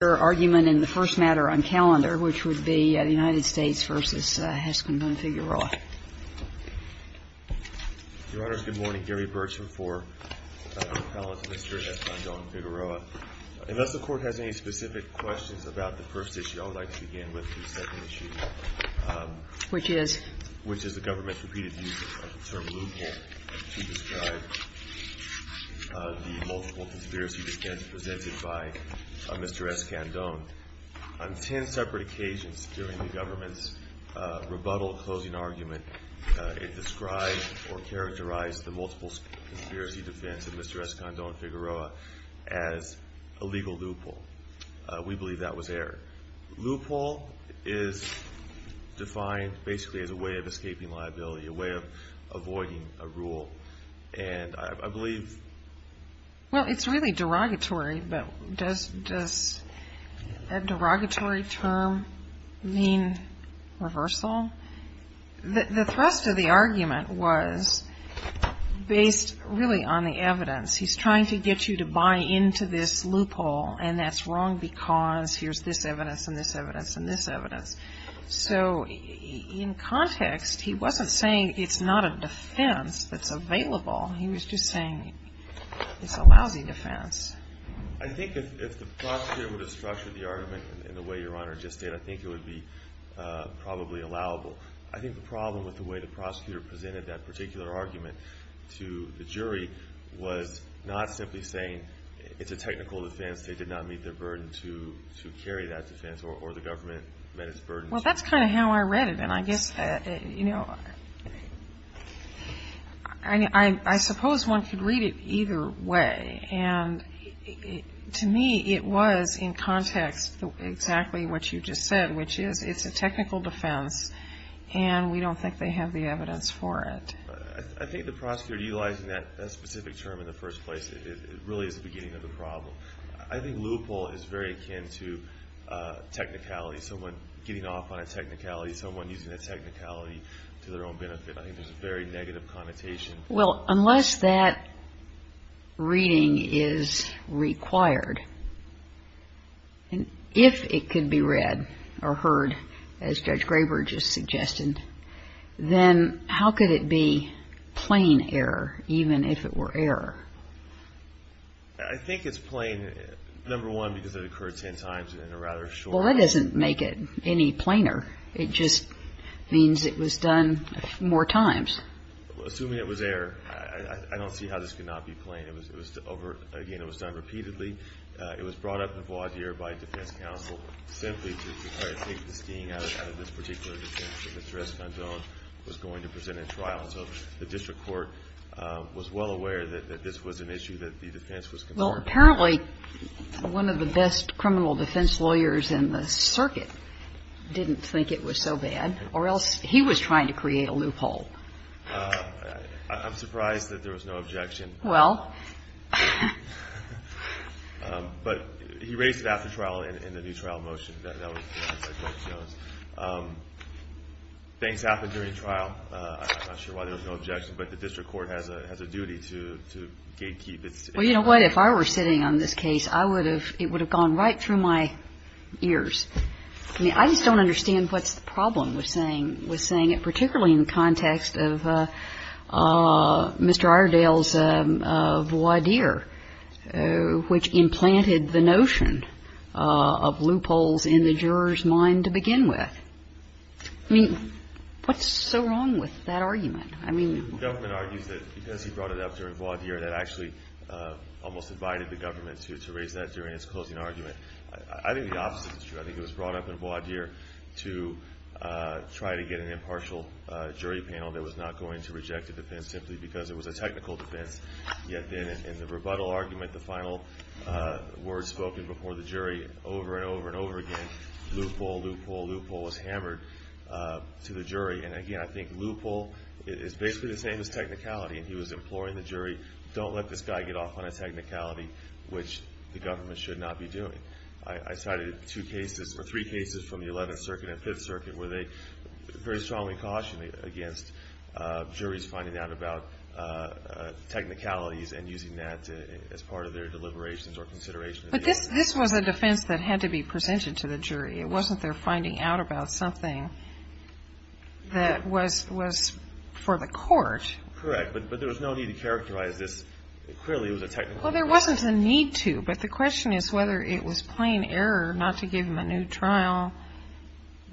argument in the first matter on calendar, which would be the United States v. Escandon-Figueroa. MR. BERTSCHMIDT Your Honors, good morning. Gary Bertschmidt for Dr. Fallon's Mr. Escandon-Figueroa. Unless the Court has any specific questions about the first issue, I would like to begin with the second issue, which is the government's repeated use of the term loophole to describe the multiple conspiracy defense presented by Mr. Escandon. On ten separate occasions during the government's rebuttal closing argument, it described or characterized the multiple conspiracy defense of Mr. Escandon-Figueroa as a legal loophole. We believe that was error. Loophole is defined basically as a way of escaping liability, a way of avoiding a rule. And I believe MS. FALLON Well, it's really derogatory, but does a derogatory term mean reversal? The thrust of the argument was based really on the evidence. He's trying to get you to buy into this loophole, and that's wrong because here's this evidence and this evidence and this evidence. So in context, he wasn't saying it's not a defense that's available. He was just saying it's a lousy defense. MR. ESCANDON I think if the prosecutor were to structure the argument in the way Your Honor just did, I think it would be probably allowable. I think the problem with the way the prosecutor presented that particular argument to the jury was not simply saying it's a technical defense, they did not meet their burden to carry that defense or the government met its burden. MS. FALLON Well, that's kind of how I read it. And I guess, you know, I suppose one could read it either way. And to me, it was in context exactly what you just said, which is it's a technical defense, and we don't think they have the evidence for it. MR. ESCANDON I think the prosecutor utilizing that specific term in the first place, it really is the beginning of the problem. I think loophole is very akin to technicality, someone getting off on a technicality, someone using a technicality to their own benefit. I think there's a very negative connotation. MS. FALLON Well, unless that reading is required, and if it could be read or heard, as Judge Graber just suggested, then how could it be plain error, even if it were error? MR. ESCANDON I think it's plain, number one, because it occurred ten times in a rather short period of time. MS. FALLON Well, that doesn't make it any plainer. It just means it was done more MR. ESCANDON Assuming it was error, I don't see how this could not be plain. It was over – again, it was done repeatedly. It was brought up in voir dire by a defense counsel simply to try to take the sting out of this particular defense, that Mr. Escandon was going to present in trial. And so the district court was well aware that this was an issue that the defense was concerned with. MS. FALLON Apparently, one of the best criminal defense lawyers in the circuit didn't think it was so bad, or else he was trying to create a loophole. MR. ESCANDON I'm surprised that there was no objection. MS. FALLON Well. MR. ESCANDON But he raised it after trial in the new trial motion. That was – things happened during the trial. I'm not sure why there was no objection, but the district court has a duty to keep its – MS. FALLON Well, you know what? If I were sitting on this case, I would have – it would have gone right through my ears. I mean, I just don't understand what's the problem with saying – with saying it, particularly in the context of Mr. Iredale's voir dire, which implanted the notion of loopholes in the juror's mind to begin with. I mean, what's so wrong with that argument? I mean – MR. ESCANDON Because he brought it up during voir dire, that actually almost invited the government to raise that during its closing argument. I think the opposite is true. I think it was brought up in voir dire to try to get an impartial jury panel that was not going to reject a defense simply because it was a technical defense, yet then in the rebuttal argument, the final word spoken before the jury over and over and over again, loophole, loophole, loophole, was hammered to the jury. And again, I think loophole is basically the same as technicality, and he was imploring the jury, don't let this guy get off on a technicality, which the government should not be doing. I cited two cases – or three cases from the Eleventh Circuit and Fifth Circuit where they very strongly cautioned against juries finding out about technicalities and using that as part of their deliberations or consideration of the argument. JUSTICE KAGAN But this – this was a defense that had to be presented to the jury. It wasn't their finding out about something that was – was for the court. MR. GARRETT Correct. But there was no need to characterize this. Clearly, it was a technical defense. JUSTICE KAGAN Well, there wasn't a need to, but the question is whether it was plain error not to give him a new trial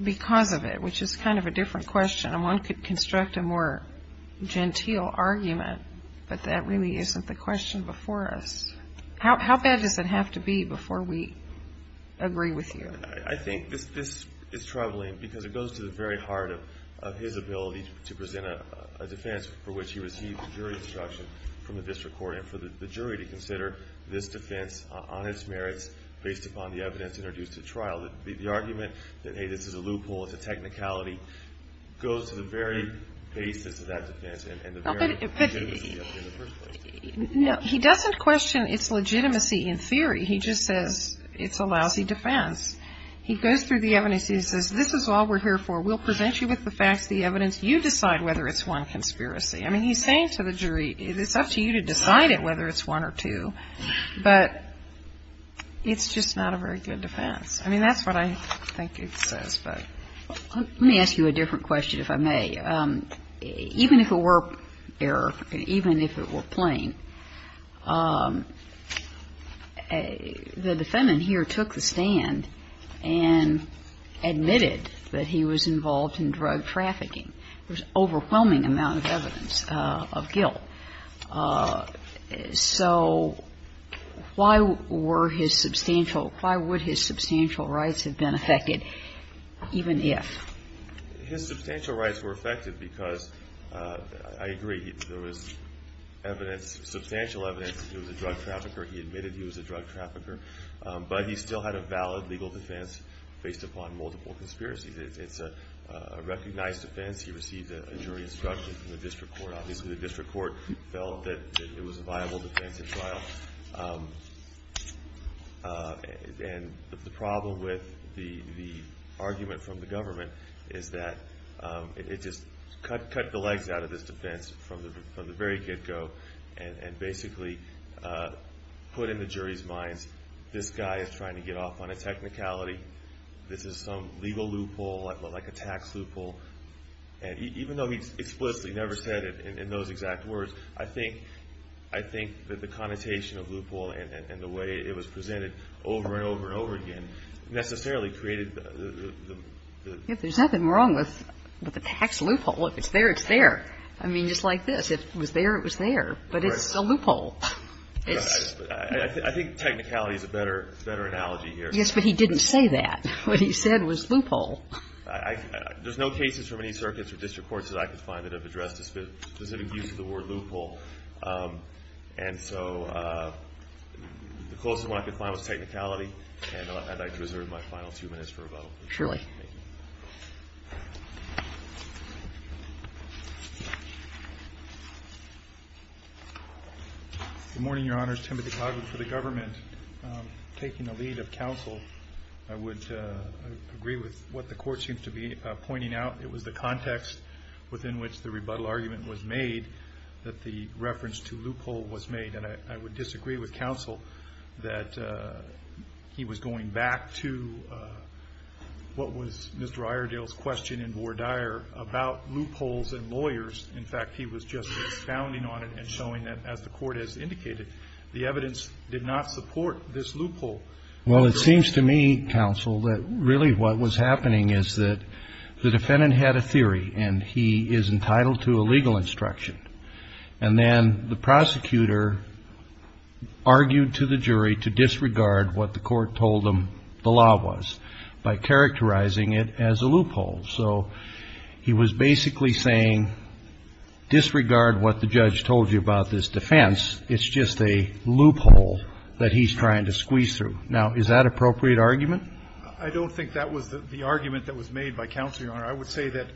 because of it, which is kind of a different question, and one could construct a more genteel argument, but that really isn't the question before us. How bad does it have to be before we agree with you? MR. GARRETT I think this – this is troubling because it goes to the very heart of – of his ability to present a – a defense for which he received a jury instruction from the district court and for the jury to consider this defense on its merits based upon the evidence introduced at trial. The argument that, hey, this is a loophole, it's a technicality, goes to the very basis of that defense and the very legitimacy of it in the first place. JUSTICE KAGAN No, but he doesn't question its legitimacy in theory. He just says it's a lousy defense. He goes through the evidence. He says, this is all we're here for. We'll present you with the facts, the evidence. You decide whether it's one conspiracy. I mean, he's saying to the jury, it's up to you to decide it whether it's one or two, but it's just not a very good defense. I mean, that's what I think it says, but. MS. GOTTLIEB Let me ask you a different question if I may. Even if it were error, even if it were plain, the defendant here took the stand and admitted that he was involved in drug trafficking. There's an overwhelming amount of evidence of guilt. So why were his substantial – why would his substantial rights have been affected, even if? MR. GOTTLIEB His substantial rights were affected because, I agree, there was evidence, substantial evidence that he was a drug trafficker. He admitted he was a drug trafficker. But he still had a valid legal defense based upon multiple conspiracies. It's a recognized defense. He received a jury instruction from the district court. Obviously, the district court felt that it was a viable defense at trial. And the problem with the argument from the government is that it just cut the legs out of this defense from the very get-go and basically put in the jury's minds, this guy is trying to get off on a technicality. This is some legal loophole, like a tax loophole. And even though he explicitly never said it in those exact words, I think that the connotation of loophole and the way it was presented over and over and over again necessarily created the – MS. GOTTLIEB If there's nothing wrong with a tax loophole, if it's there, it's there. I mean, just like this. If it was there, it was there. But it's a loophole. MR. GOTTLIEB I think technicality is a better analogy here. MS. GOTTLIEB Yes, but he didn't say that. What he said was loophole. MR. GOTTLIEB There's no cases from any circuits or district courts that I could find that have addressed the specific use of the word loophole. And so the closest one I could find was technicality. And I'd like to reserve my final two minutes for rebuttal. MS. GOTTLIEB Surely. MR. GOTTLIEB Good morning, Your Honors. Timothy Coghlan for the government. Taking the lead of counsel, I would agree with what the Court seems to be pointing out. It was the context within which the rebuttal argument was made that the reference to loophole was made. And I would disagree with counsel that he was going back to what was Mr. Iredale's question in Vore Dyer about loopholes and lawyers. In fact, he was just expounding on it and showing that, as the Court has indicated, the evidence did not support this loophole. MR. GOTTLIEB Well, it seems to me, counsel, that really what was happening is that the defendant had a theory and he is entitled to a legal instruction. And then the prosecutor argued to the jury to disregard what the Court told them the law was by characterizing it as a loophole. So he was basically saying, disregard what the judge told you about this defense. It's just a loophole that he's trying to squeeze through. Now, is that an appropriate argument? MR. GOTTLIEB I don't think that was the argument that was made by counsel, Your Honor. I would say that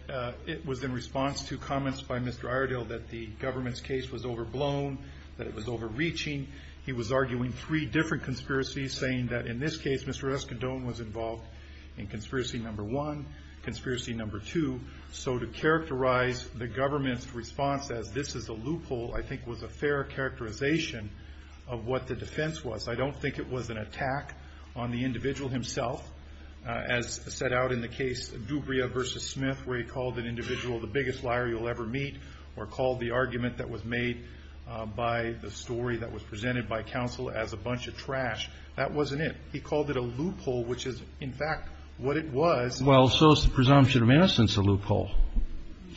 it was in response to comments by Mr. Iredale that the government's case was overblown, that it was overreaching. He was arguing three different conspiracies, saying that, in this case, Mr. Escondón was involved in conspiracy number one, conspiracy number two. So to characterize the government's response as, this is a loophole, I think was a fair characterization of what the defense was. I don't think it was an attack on the individual himself, as set out in the case Dubria v. Smith, where he called an individual the biggest liar you'll ever meet, or called the argument that was made by the story that was presented by counsel as a bunch of trash. That wasn't it. He called it a loophole, which is, in fact, what it was. MR. EISENACH Well, so is the presumption of innocence a loophole.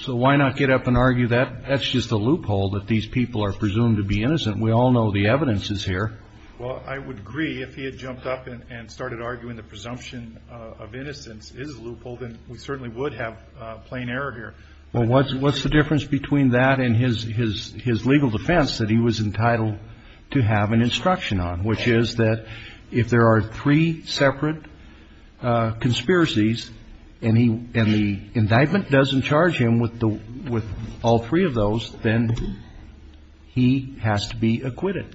So why not get up and argue that that's just a loophole, that these people are presumed to be innocent? We all know the evidence is here. Well, I would agree, if he had jumped up and started arguing the presumption of innocence is a loophole, then we certainly would have plain error here. Well, what's the difference between that and his legal defense that he was entitled to have an instruction on, which is that if there are three separate conspiracies and the indictment doesn't charge him with all three of those, then he has to be acquitted.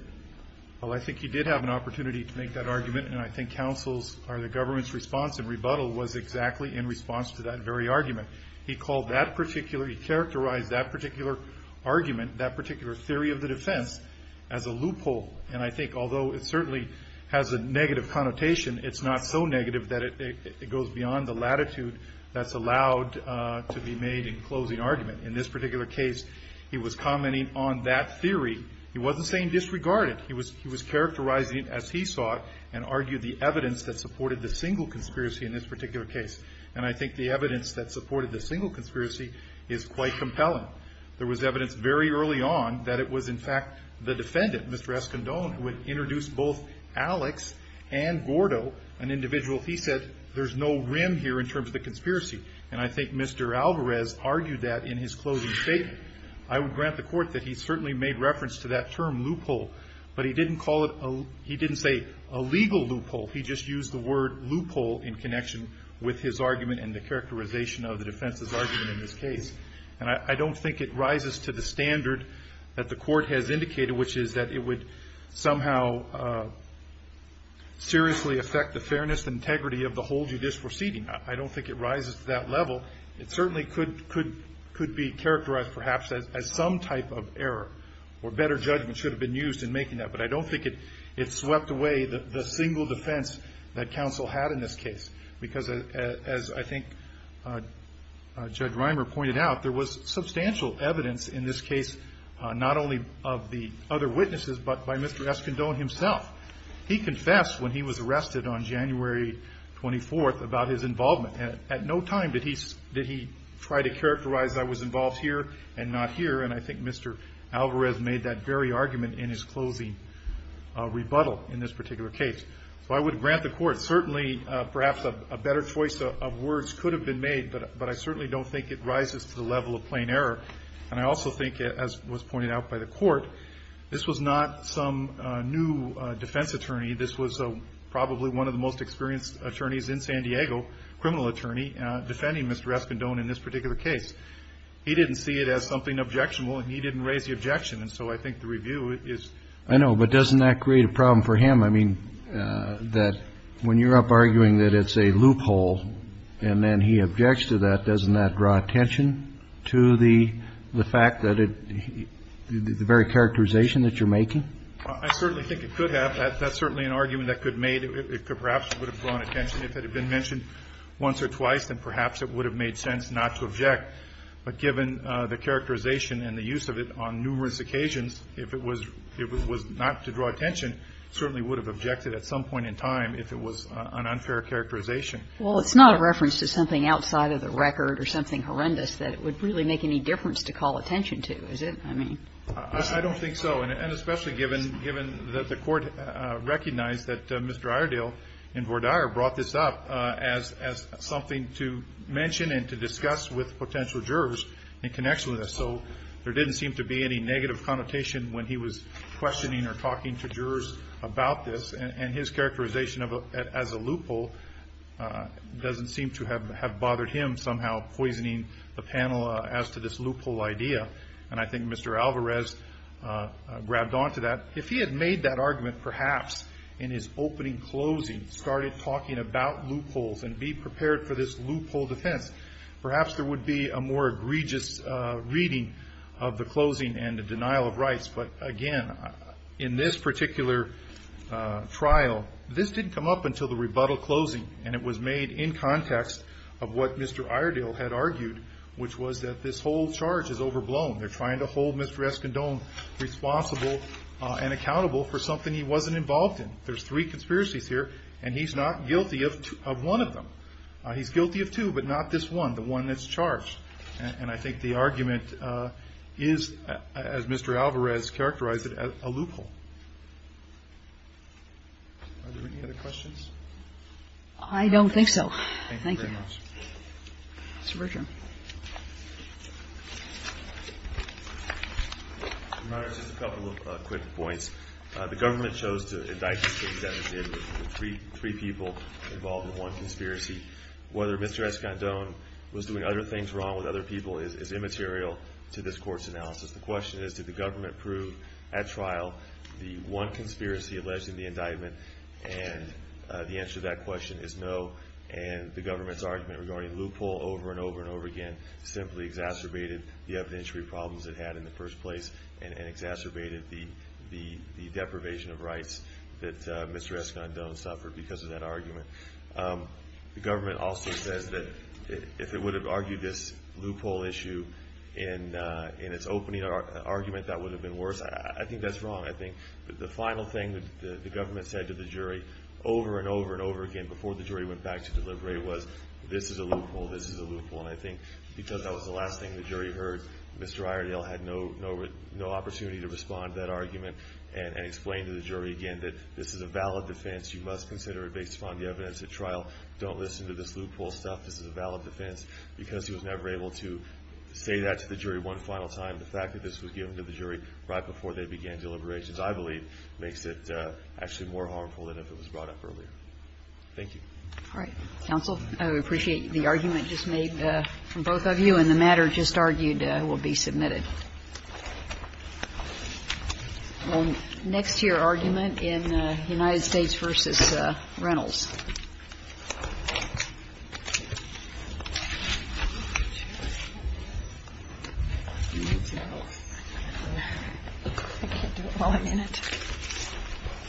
MR. EISENACH Well, I think he did have an opportunity to make that argument, and I think counsel's or the government's response and rebuttal was exactly in response to that very argument. He called that particular, he characterized that particular argument, that particular theory of the defense, as a loophole. And I think, although it certainly has a negative connotation, it's not so negative that it goes beyond the latitude that's allowed to be made in closing argument. In this particular case, he was commenting on that theory. He wasn't saying disregarded. He was characterizing it as he saw it and argued the evidence that supported the single conspiracy in this particular case. And I think the evidence that supported the single conspiracy is quite compelling. There was evidence very early on that it was, in fact, the defendant, Mr. Escondón, who had introduced both Alex and Gordo, an individual. He said there's no rim here in terms of the conspiracy. And I think Mr. Alvarez argued that in his closing statement. I would grant the Court that he certainly made reference to that term, loophole. But he didn't call it a, he didn't say a legal loophole. He just used the word loophole in connection with his argument and the characterization of the defense's argument in this case. And I don't think it rises to the standard that the Court has indicated, which is that it would somehow seriously affect the fairness and integrity of the whole judicial proceeding. I don't think it rises to that level. It certainly could be characterized, perhaps, as some type of error. Or better judgment should have been used in making that. But I don't think it swept away the single defense that counsel had in this case. Because as I think Judge Reimer pointed out, there was substantial evidence in this case, not only of the other witnesses, but by Mr. Escondón himself. He confessed when he was arrested on January 24th about his involvement. At no time did he try to characterize, I was involved here and not here. And I think Mr. Alvarez made that very argument in his closing rebuttal in this particular case. So I would grant the Court, certainly, perhaps a better choice of words could have been made. But I certainly don't think it rises to the level of plain error. And I also think, as was pointed out by the Court, this was not some new defense attorney. This was probably one of the most experienced attorneys in San Diego, criminal attorney, defending Mr. Escondón in this particular case. He didn't see it as something objectionable, and he didn't raise the objection. And so I think the review is... I know, but doesn't that create a problem for him? I mean, that when you're up arguing that it's a loophole, and then he objects to that, doesn't that draw attention to the fact that the very characterization that you're making? I certainly think it could have. That's certainly an argument that could have made. It perhaps would have drawn attention if it had been mentioned once or twice, and perhaps it would have made sense not to object. But given the characterization and the use of it on numerous occasions, if it was not to draw attention, certainly would have objected at some point in time if it was an unfair characterization. Well, it's not a reference to something outside of the record or something horrendous that it would really make any difference to call attention to, is it? I mean... I don't think so. And especially given that the court recognized that Mr. Iredale and Vordaer brought this up as something to mention and to discuss with potential jurors in connection with this. So there didn't seem to be any negative connotation when he was questioning or talking to jurors about this. And his characterization of it as a loophole doesn't seem to have bothered him somehow poisoning the panel as to this loophole idea. And I think Mr. Alvarez grabbed onto that. If he had made that argument perhaps in his opening closing, started talking about loopholes and be prepared for this loophole defense, perhaps there would be a more egregious reading of the closing and the denial of rights. But again, in this particular trial, this didn't come up until the rebuttal closing. And it was made in context of what Mr. Iredale had argued, which was that this whole charge is overblown. They're trying to hold Mr. Escondón responsible and accountable for something he wasn't involved in. There's three conspiracies here, and he's not guilty of one of them. He's guilty of two, but not this one, the one that's charged. And I think the argument is, as Mr. Alvarez characterized it, a loophole. Are there any other questions? I don't think so. Thank you very much. Mr. Bergeron. Your Honor, just a couple of quick points. The government chose to indict the case that it did with three people involved in one conspiracy. Whether Mr. Escondón was doing other things wrong with other people is immaterial to this Court's analysis. The question is, did the government prove at trial the one conspiracy alleged in the indictment? And the answer to that question is no. And the government's argument regarding loophole over and over and over again simply exacerbated the evidentiary problems it had in the first place and exacerbated the deprivation of rights that Mr. Escondón suffered because of that argument. The government also says that if it would have argued this loophole issue in its opening argument, that would have been worse. I think that's wrong. I think the final thing that the government said to the jury over and over and over again before the jury went back to deliberate was, this is a loophole, this is a loophole. And I think because that was the last thing the jury heard, Mr. Iredale had no opportunity to respond to that argument and explain to the jury again that this is a valid defense. You must consider it based upon the evidence at trial. Don't listen to this loophole stuff. This is a valid defense. Because he was never able to say that to the jury one final time, the fact that this was given to the jury right before they began deliberations, I believe, makes it actually more harmful than if it was brought up earlier. Thank you. All right. Counsel, I appreciate the argument just made from both of you and the matter just argued will be submitted. Well, next to your argument in United States v. Reynolds. I can't do it while I'm in it.